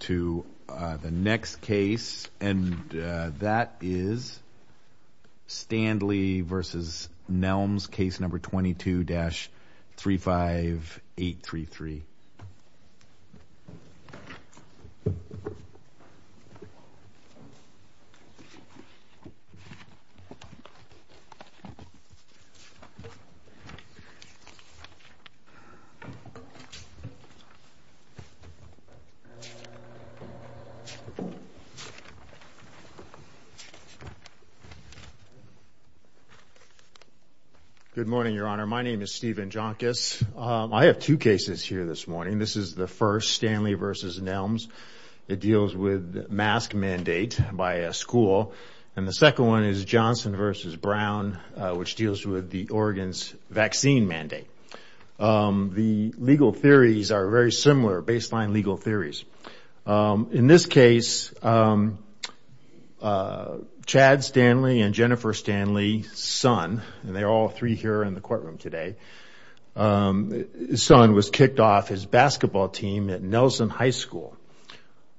to the next case and that is Standley v. Nelms case number 22-35833. Good morning, Your Honor. My name is Stephen Jonkis. I have two cases here this morning. This is the first, Standley v. Nelms. It deals with mask mandate by a school and the second one is Johnson v. Brown, which deals with the Oregon's vaccine mandate. The legal theories are very similar, baseline legal theories. In this case, Chad Standley and Jennifer Standley's son, and they're all three here in the courtroom today, his son was kicked off his basketball team at Nelson High School.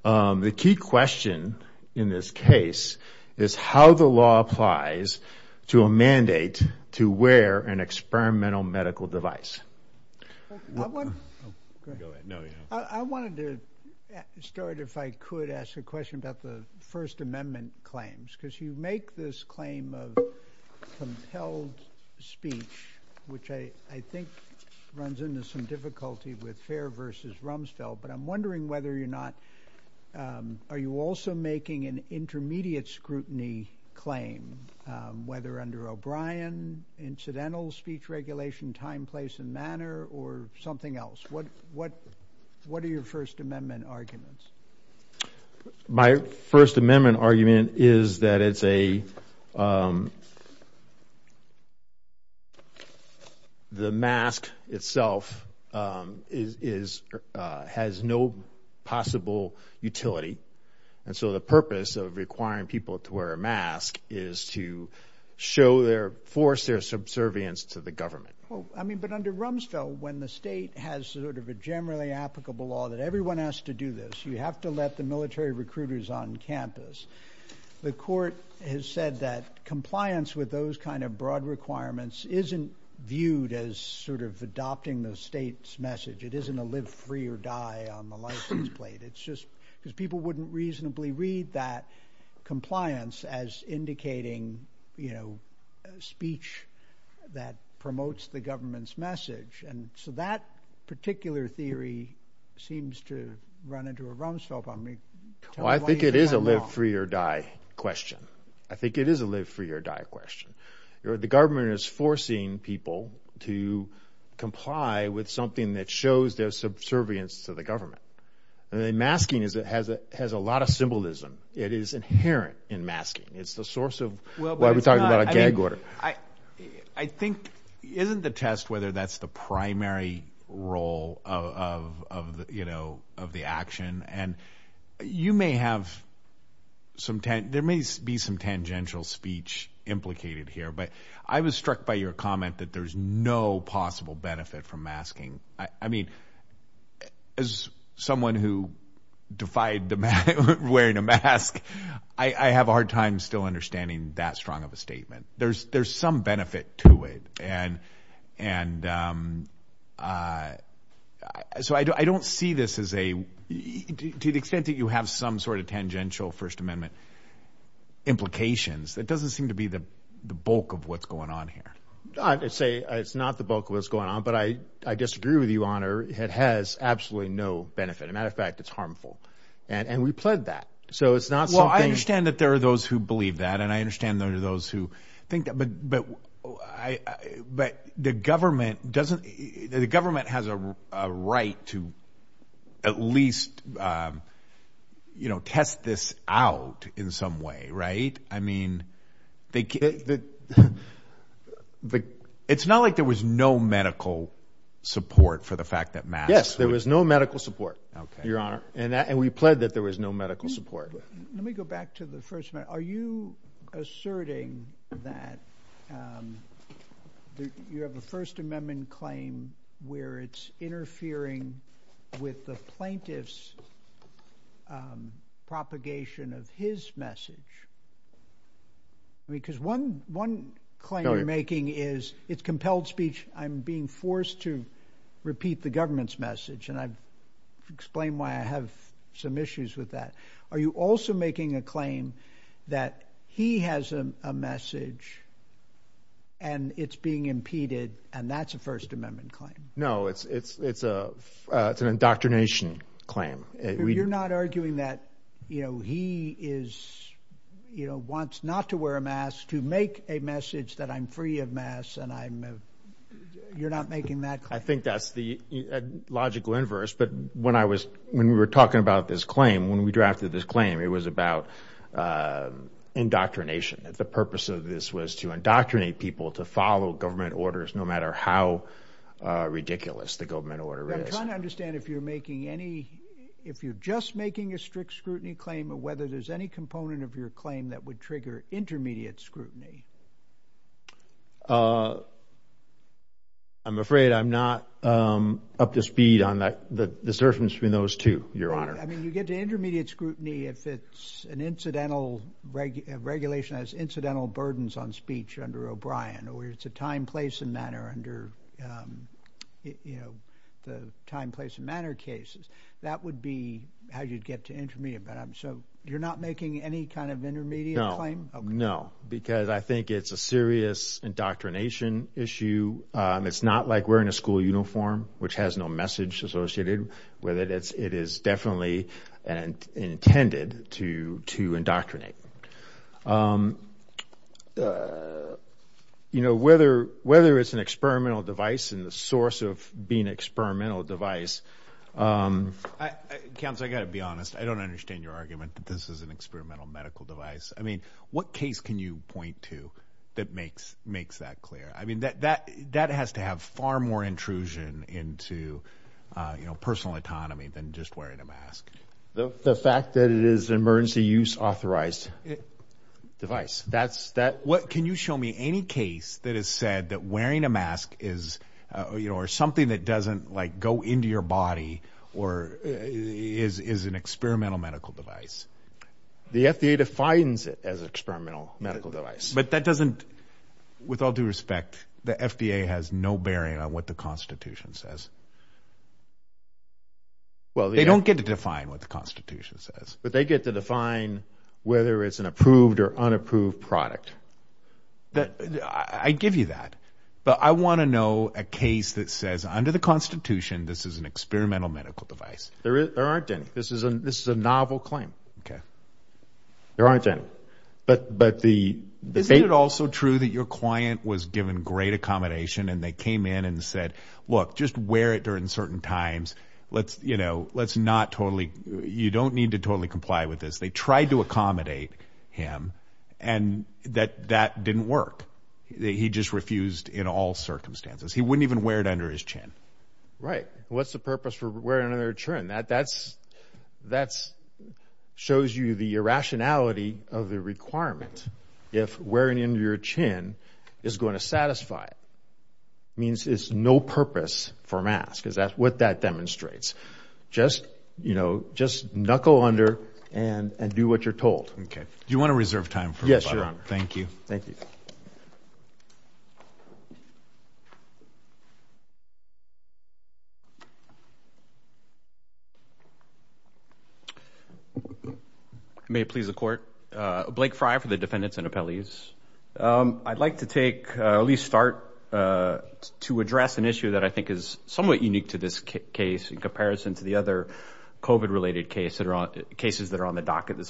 The key question in this case is how the law applies to a mandate to wear an experimental medical device. I wanted to start if I could ask a question about the First Amendment claims because you make this claim of compelled speech, which I think runs into some difficulty with Fair v. Rumsfeld, but I'm wondering whether you're not, are you also making an intermediate scrutiny claim, whether under O'Brien, incidental speech regulation, time, place, and manner, or something else? What are your First Amendment arguments? My First Amendment argument is that it's a, the mask itself has no possible utility, and so the purpose of requiring people to wear a mask is to show their force, their subservience to the government. I mean, but under Rumsfeld, when the state has sort of a generally applicable law that everyone has to do this, you have to let the military recruiters on campus. The court has said that compliance with those kind of broad requirements isn't viewed as sort of adopting the state's message. It isn't a live free or die on the license plate. It's just because people wouldn't reasonably read that compliance as indicating, you know, speech that promotes the government's message, and so that particular theory seems to run into a Rumsfeld problem. Well, I think it is a live free or die question. I think it is a live free or die question. The government is forcing people to comply with something that shows their subservience to the government, and the masking has a lot of symbolism. It is inherent in masking. It's the source of why we talk about a gag order. I think, isn't the test whether that's the primary role of, you know, of the action, and you may have some, there may be some tangential speech implicated here, but I was struck by your comment that there's no possible benefit from masking. I mean, as someone who defied the mask, wearing a mask, I have a hard time still understanding that strong of a statement. There's some benefit to it, and so I don't see this as a, to the extent that you have some sort of tangential First Amendment implications, that doesn't seem to be the bulk of what's I'd say it's not the bulk of what's going on, but I disagree with you, Honor. It has absolutely no benefit. As a matter of fact, it's harmful, and we pled that, so it's not something Well, I understand that there are those who believe that, and I understand there are those who think that, but the government doesn't, the government has a right to at least, you know, test this out in some way, right? I mean, it's not like there was no medical support for the fact that masks. Yes, there was no medical support, Your Honor, and we pled that there was no medical support. Let me go back to the First Amendment. Are you asserting that you have a First Amendment claim where it's interfering with the plaintiff's propagation of his message? Because one claim you're making is, it's compelled speech, I'm being forced to repeat the government's message, and I've explained why I have some issues with that. Are you also making a claim that he has a message, and it's being impeded, and that's a First Amendment claim? No, it's an indoctrination claim. You're not arguing that, you know, he is, you know, wants not to wear a mask to make a message that I'm free of masks, and I'm, you're not making that claim? I think that's the logical inverse, but when I was, when we were talking about this claim, when we drafted this claim, it was about indoctrination, that the purpose of this was to indoctrinate people to follow government orders, no matter how ridiculous the government order is. I'm trying to understand if you're making any, if you're just making a strict scrutiny claim, or whether there's any component of your claim that would trigger intermediate scrutiny. I'm afraid I'm not up to speed on that, the disturbance between those two, Your Honor. I mean, you get to intermediate scrutiny if it's an incidental regulation, has incidental burdens on speech under O'Brien, or it's a time, place, and manner under, you know, the time, place, and manner cases. That would be how you'd get to intermediate, but I'm, so you're not making any kind of intermediate claim? No, because I think it's a serious indoctrination issue. It's not like wearing a school uniform, which has no message associated with it. It is definitely intended to indoctrinate. You know, whether it's an experimental device, and the source of being an experimental device... Counsel, I've got to be honest. I don't understand your argument that this is an experimental medical device. I mean, what case can you point to that makes that clear? I mean, that has to have far more intrusion into, you know, personal autonomy than just wearing a mask. The fact that it is an emergency use authorized device. That's... What, can you show me any case that has said that wearing a mask is, you know, or something that doesn't, like, go into your body, or is an experimental medical device? The FDA defines it as experimental medical device. But that doesn't, with all due respect, the FDA has no bearing on what the Constitution says. Well, they don't get to define what the Constitution says. But they get to define whether it's an approved or unapproved product. I give you that, but I want to know a case that says, under the Constitution, this is an experimental medical device. There aren't any. This is a novel claim. Okay. There aren't any. But the... Isn't it also true that your client was given great accommodation, and they came in and said, look, just wear it during certain times. Let's, you know, let's not totally... You don't need to totally comply with this. They tried to accommodate him, and that didn't work. He just refused in all circumstances. He wouldn't even wear another chin. That shows you the irrationality of the requirement. If wearing it under your chin is going to satisfy it, it means it's no purpose for a mask. That's what that demonstrates. Just, you know, just knuckle under and do what you're told. Okay. Do you want to reserve time? Yes, Your Honor. Thank you. Thank you. May it please the court. Blake Fry for the defendants and appellees. I'd like to take, at least start, to address an issue that I think is somewhat unique to this case in comparison to the other COVID-related cases that are on the docket this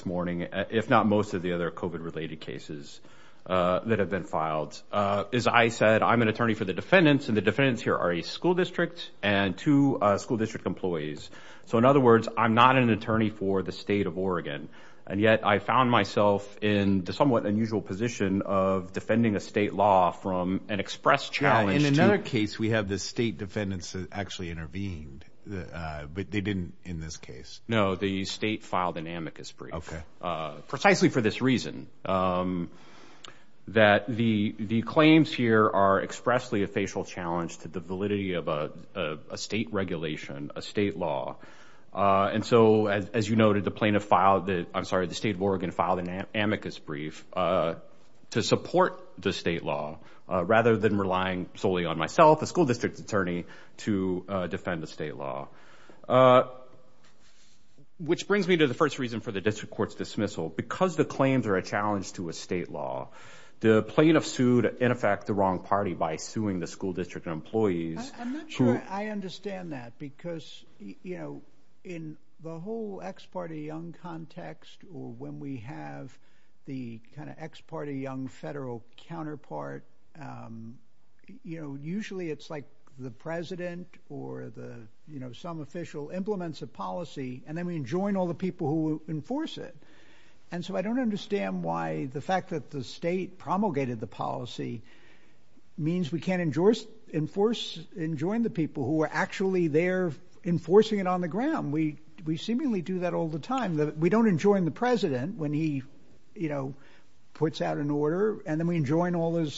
is that have been filed. As I said, I'm an attorney for the defendants, and the defendants here are a school district and two school district employees. So, in other words, I'm not an attorney for the state of Oregon. And yet, I found myself in the somewhat unusual position of defending a state law from an express challenge. In another case, we have the state defendants that actually intervened, but they didn't in this case. No, the state filed an amicus brief, precisely for this reason, that the claims here are expressly a facial challenge to the validity of a state regulation, a state law. And so, as you noted, the plaintiff filed the, I'm sorry, the state of Oregon filed an amicus brief to support the state law rather than relying solely on myself, a school district attorney, to defend the state law. Which brings me to the first reason for the district court's dismissal. Because the claims are a challenge to a state law, the plaintiff sued, in effect, the wrong party by suing the school district employees. I understand that because, you know, in the whole ex parte young context, or when we have the kind of ex parte young federal counterpart, you know, usually it's like the president or the, you know, some official implements a policy, and then we enjoin all the people who enforce it. And so I don't understand why the fact that the state promulgated the policy means we can't enjoin the people who are actually there enforcing it on the ground. We seemingly do that all the time. We don't enjoin the president when he, you know, puts out an order, and then we enjoin all those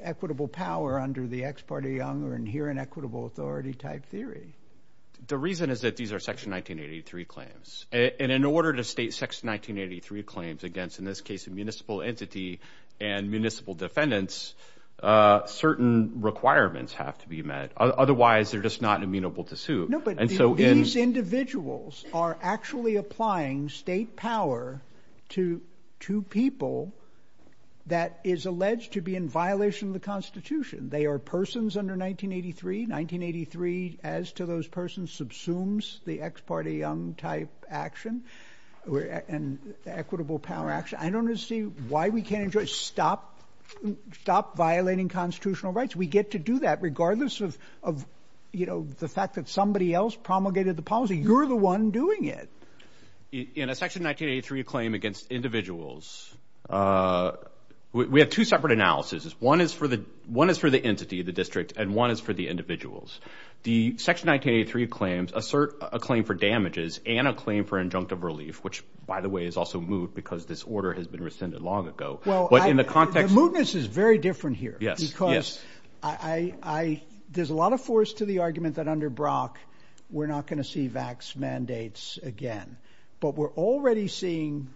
equitable power under the ex parte young or inherent equitable authority type theory. The reason is that these are Section 1983 claims. And in order to state Section 1983 claims against, in this case, a municipal entity, and municipal defendants, certain requirements have to be met. Otherwise, they're just not amenable to sue. No, but these individuals are actually applying state power to two people that is alleged to be in violation of the Constitution. They are persons under 1983. 1983, as to those persons, subsumes the ex parte young type action and equitable power action. I don't understand why we can't enjoin, stop, stop violating constitutional rights. We get to do that regardless of, you know, the fact that somebody else promulgated the policy. You're the one doing it. In a Section 1983 claim against individuals, we have two separate analysis. One is for the entity, the district, and one is for the individuals. The Section 1983 claims assert a claim for damages and a claim for injunctive relief, which, by the way, is also moot because this order has been rescinded long ago. But in the context... The mootness is very different here. Yes. Because there's a lot of force to the argument that under Brock, we're not going to see VAX mandates again. But we're already seeing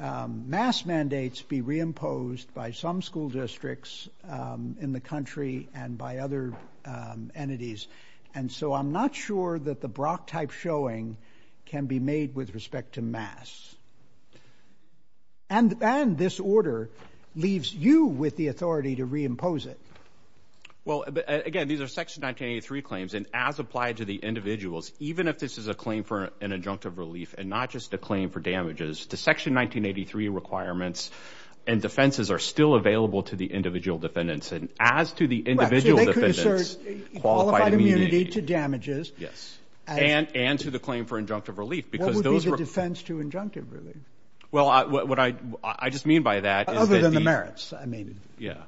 MAS mandates be reimposed by some school districts in the country and by other entities. And so I'm not sure that the Brock type showing can be made with respect to MAS. And this order leaves you with the authority to reimpose it. Well, again, these are Section 1983 claims. And as applied to the individuals, even if this is a claim for an injunctive relief and not just a claim for damages, the Section 1983 requirements and defenses are still available to the individual defendants. And as to the individual defendants... Right. So they could assert qualified immunity to damages. Yes. And to the claim for injunctive relief because those were... What would be the defense to injunctive relief? Well, what I just mean by that is that the... Other than the merits, I mean. Yeah.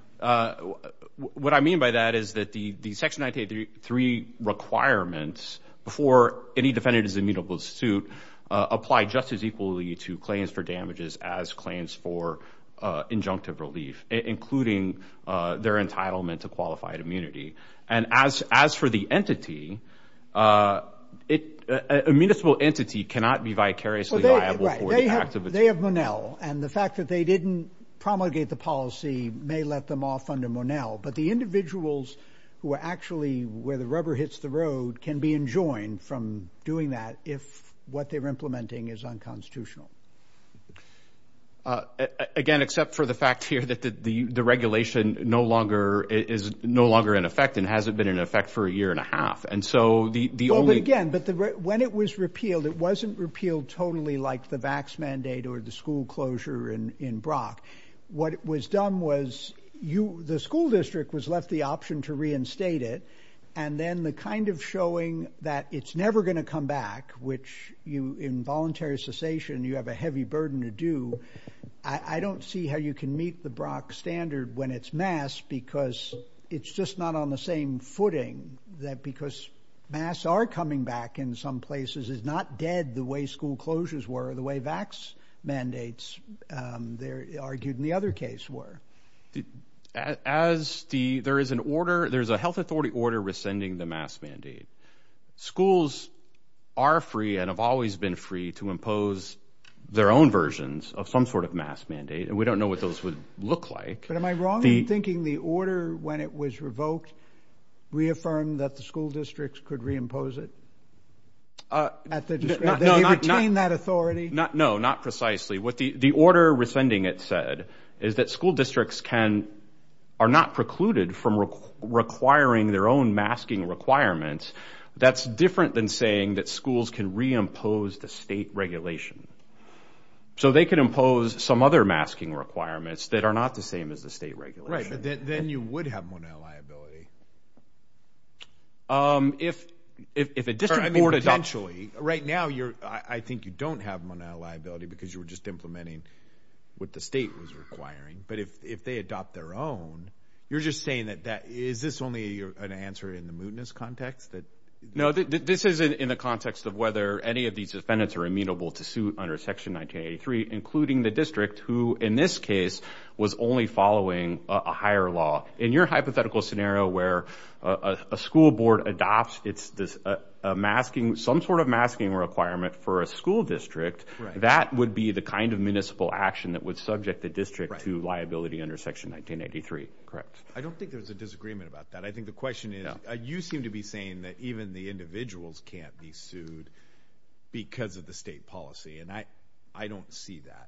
What I mean by that is that the Section 1983 requirements, before any defendant is immutable to suit, apply just as equally to claims for damages as claims for injunctive relief, including their entitlement to qualified immunity. And as for the entity, a municipal entity cannot be vicariously liable for the act of... They have Monell. And the fact that they didn't promulgate the policy may let them off under Monell. But the individuals who are actually where the rubber hits the road can be enjoined from doing that if what they're implementing is unconstitutional. Again, except for the fact here that the regulation is no longer in effect and hasn't been in effect for a year and a half. And so the only... The school closure in Brock, what was done was the school district was left the option to reinstate it. And then the kind of showing that it's never going to come back, which in voluntary cessation, you have a heavy burden to do. I don't see how you can meet the Brock standard when it's mass because it's just not on the same footing. That because mass are coming back in some places is not dead the way school closures were, the way VAX mandates, they're argued in the other case, were. As the... There is an order. There's a health authority order rescinding the mass mandate. Schools are free and have always been free to impose their own versions of some sort of mass mandate. And we don't know what those would look like. But am I wrong in thinking the order when it was revoked reaffirmed that the school districts could reimpose it? At the discretion... No, not... Did they retain that authority? Not... No, not precisely. What the order rescinding it said is that school districts can... Are not precluded from requiring their own masking requirements. That's different than saying that schools can reimpose the state regulation. So they can impose some other masking requirements that are not the same as the state regulation. Right. But then you would have more liability. If a district board adopts... Right now, you're... I think you don't have monetary liability because you were just implementing what the state was requiring. But if they adopt their own, you're just saying that that... Is this only an answer in the mootness context that... No, this is in the context of whether any of these defendants are amenable to suit under Section 1983, including the district who, in this case, was only following a higher law. In your hypothetical scenario where a school board adopts a masking, some sort of masking requirement for a school district, that would be the kind of municipal action that would subject the district to liability under Section 1983. Correct. I don't think there's a disagreement about that. I think the question is, you seem to be saying that even the individuals can't be sued because of the state policy. And I don't see that.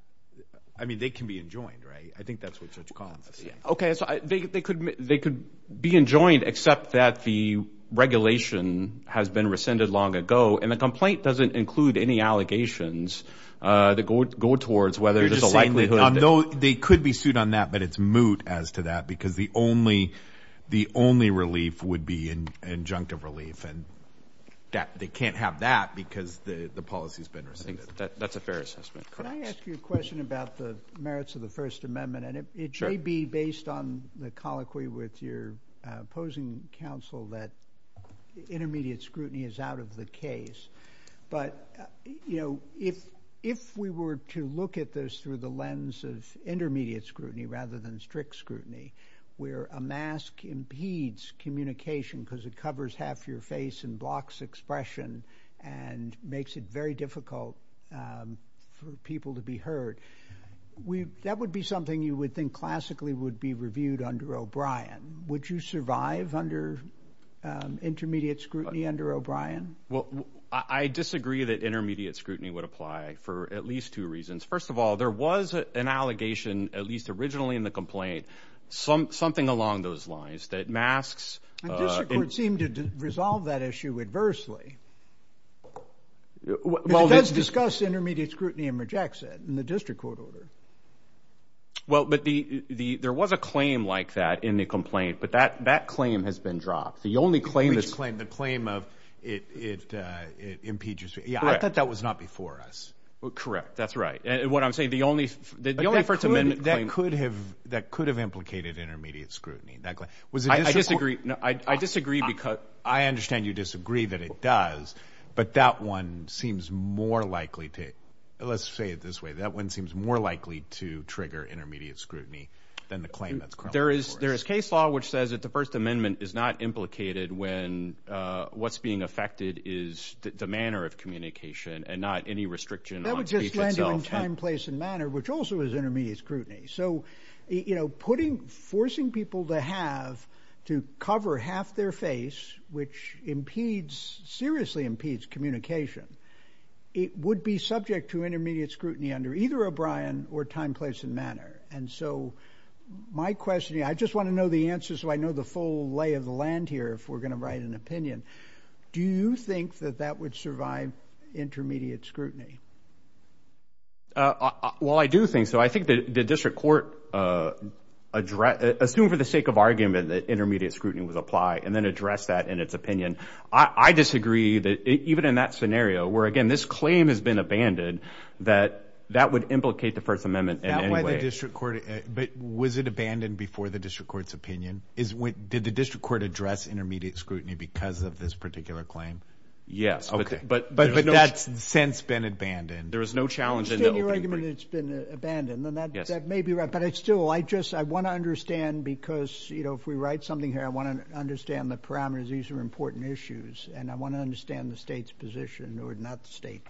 I mean, they can be enjoined, right? I think that's what Judge Collins is saying. Okay. So they could be enjoined, except that the regulation has been rescinded long ago. And the complaint doesn't include any allegations that go towards whether there's a likelihood that... You're just saying they could be sued on that, but it's moot as to that because the only relief would be injunctive relief. And they can't have that because the policy's been rescinded. That's a fair assessment. Could I ask you a question about the merits of the First Amendment? And it may be based on the colloquy with your opposing counsel that intermediate scrutiny is out of the case. But, you know, if we were to look at this through the lens of intermediate scrutiny rather than strict scrutiny, where a mask impedes communication because it covers half your face and blocks expression and makes it very difficult for people to be heard, that would be something you would think classically would be reviewed under O'Brien. Would you survive under intermediate scrutiny under O'Brien? Well, I disagree that intermediate scrutiny would apply for at least two reasons. First of all, there was an allegation, at least something along those lines, that masks... And the district court seemed to resolve that issue adversely. It does discuss intermediate scrutiny and rejects it in the district court order. Well, but there was a claim like that in the complaint, but that claim has been dropped. The only claim... Which claim? The claim of it impedes... Yeah, I thought that was not before us. Well, correct. That's right. And what I'm saying, the only First Amendment claim... That could have implicated intermediate scrutiny. I disagree because I understand you disagree that it does, but that one seems more likely to, let's say it this way, that one seems more likely to trigger intermediate scrutiny than the claim that's... There is case law which says that the First Amendment is not implicated when what's being affected is the manner of communication and not any restriction on speech itself. ...time, place, and manner, which also is intermediate scrutiny. So, you know, putting, forcing people to have to cover half their face, which impedes, seriously impedes communication, it would be subject to intermediate scrutiny under either O'Brien or time, place, and manner. And so my question, I just want to know the answer so I know the full lay of the land here, if we're going to write an opinion. Do you think that that would survive intermediate scrutiny? Well, I do think so. I think that the district court, assume for the sake of argument that intermediate scrutiny was applied, and then address that in its opinion. I disagree that even in that scenario, where again, this claim has been abandoned, that that would implicate the First Amendment in any way. That's why the district court, but was it abandoned before the district court's opinion? Did the district court address intermediate scrutiny because of this particular claim? Yes. Okay. But that's since been abandoned. There was no challenge in the opening statement. You state your argument that it's been abandoned, then that may be right. But I still, I just, I want to understand because, you know, if we write something here, I want to understand the parameters. These are important issues. And I want to understand the state's position, or not the state,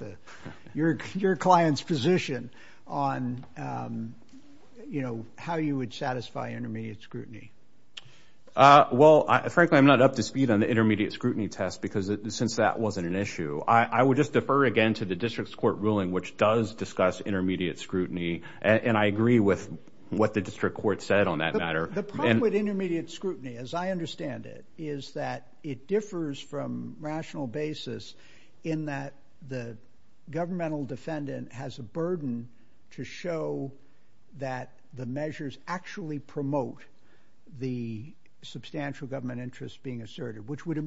your client's position on, you know, how you would satisfy intermediate scrutiny. Well, frankly, I'm not up to speed on the intermediate scrutiny test because since that wasn't an issue, I would just defer again to the district's court ruling, which does discuss intermediate scrutiny. And I agree with what the district court said on that matter. The problem with intermediate scrutiny, as I understand it, is that it differs from rational basis in that the governmental defendant has a burden to show that the measures actually promote the substantial government interest being asserted, which would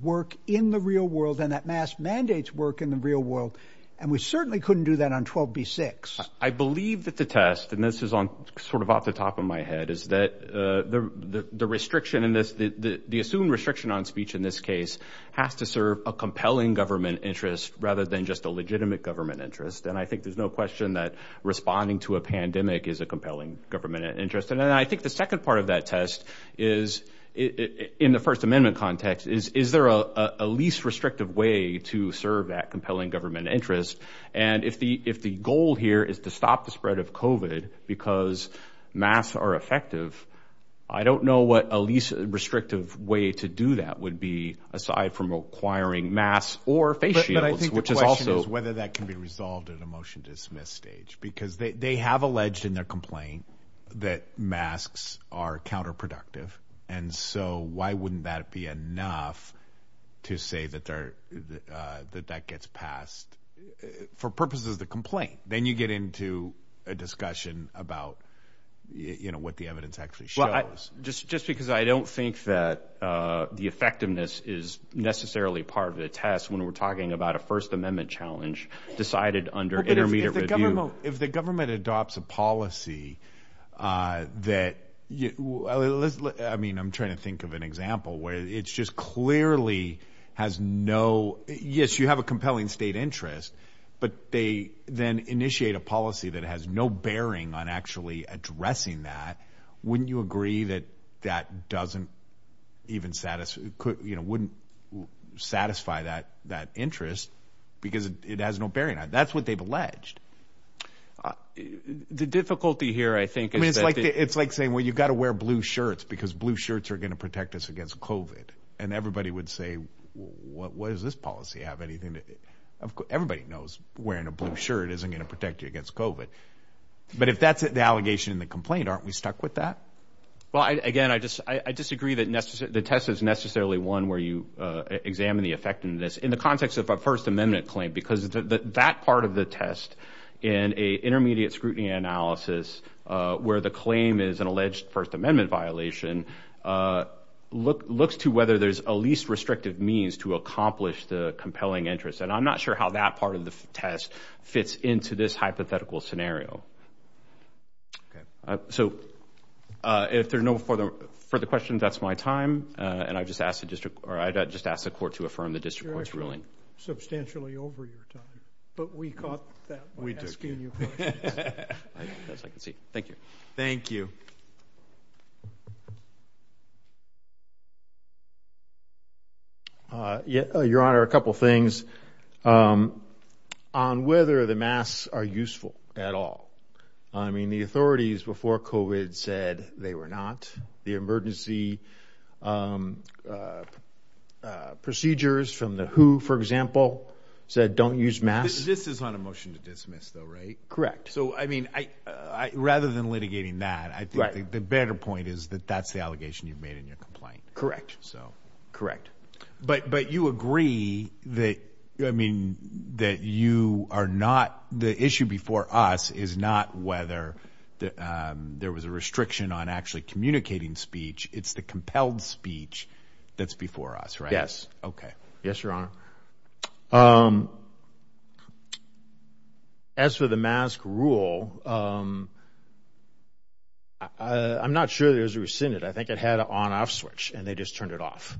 work in the real world and that mass mandates work in the real world. And we certainly couldn't do that on 12B-6. I believe that the test, and this is on sort of off the top of my head, is that the restriction in this, the assumed restriction on speech in this case has to serve a compelling government interest rather than just a legitimate government interest. And I think there's no question that responding to a pandemic is a compelling government interest. And I think the second part of that test is, in the First Amendment, there is a least restrictive way to serve that compelling government interest. And if the, if the goal here is to stop the spread of COVID because masks are effective, I don't know what a least restrictive way to do that would be aside from requiring masks or face shields, which is also. But I think the question is whether that can be resolved at a motion to dismiss stage because they, they have alleged in their complaint that masks are counterproductive. And so, why wouldn't that be enough to say that they're, that that gets passed for purposes of the complaint? Then you get into a discussion about, you know, what the evidence actually shows. Well, just because I don't think that the effectiveness is necessarily part of the test when we're talking about a First Amendment challenge decided under intermediate review. If the government adopts a policy that, I mean, I'm trying to think of an example where it's just clearly has no, yes, you have a compelling state interest, but they then initiate a policy that has no bearing on actually addressing that, wouldn't you agree that that The difficulty here, I think it's like, it's like saying, well, you got to wear blue shirts because blue shirts are going to protect us against COVID. And everybody would say, what, what does this policy have anything to, everybody knows wearing a blue shirt isn't going to protect you against COVID. But if that's the allegation in the complaint, aren't we stuck with that? Well, again, I just, I disagree that the test is necessarily one where you examine the effect in this, in the context of a First Amendment violation. And I'm not sure how that part of the test in a intermediate scrutiny analysis, where the claim is an alleged First Amendment violation, looks to whether there's a least restrictive means to accomplish the compelling interest. And I'm not sure how that part of the test fits into this hypothetical scenario. So, if there's no further questions, that's my time. And I just asked the district, or I just asked the court to affirm the district court's ruling. Substantially over your time. But we caught that by asking you questions. As I can see. Thank you. Thank you. Yeah, Your Honor, a couple things. On whether the masks are useful at all. I mean, the authorities before COVID said they were not. The District Court, for example, said don't use masks. This is on a motion to dismiss though, right? Correct. So, I mean, rather than litigating that, I think the better point is that that's the allegation you've made in your complaint. Correct. So. Correct. But you agree that, I mean, that you are not, the issue before us is not whether there was a restriction on actually communicating speech. It's the Yes. Okay. Yes, Your Honor. As for the mask rule, I'm not sure there was a rescinded. I think it had an on-off switch and they just turned it off.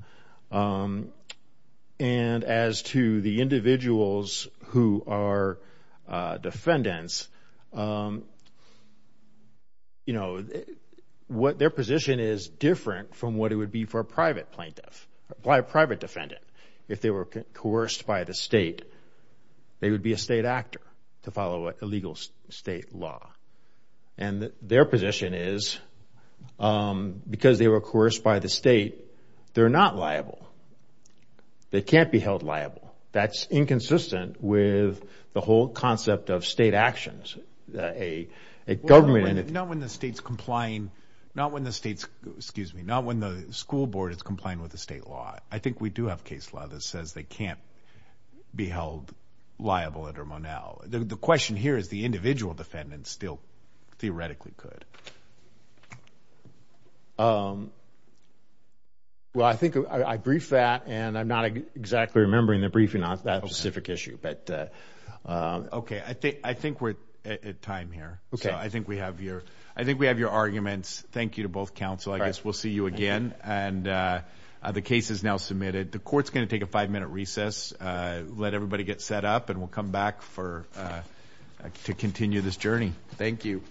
And as to the individuals who are defendants, you know, what their position is different from what it would be for a private plaintiff, by a private defendant. If they were coerced by the state, they would be a state actor to follow a legal state law. And their position is because they were coerced by the state, they're not liable. They can't be held liable. That's inconsistent with the whole concept of state actions. A government do have case law that says they can't be held liable under Monell. The question here is the individual defendants still theoretically could. Well, I think I briefed that and I'm not exactly remembering the briefing on that specific issue. But. Okay. I think we're at time here. Okay. I think we have your arguments. Thank you to both counsel. I guess we'll see you again. And the case is now submitted. The court's going to take a five-minute recess. Let everybody get set up and we'll come back for to continue this journey. Thank you.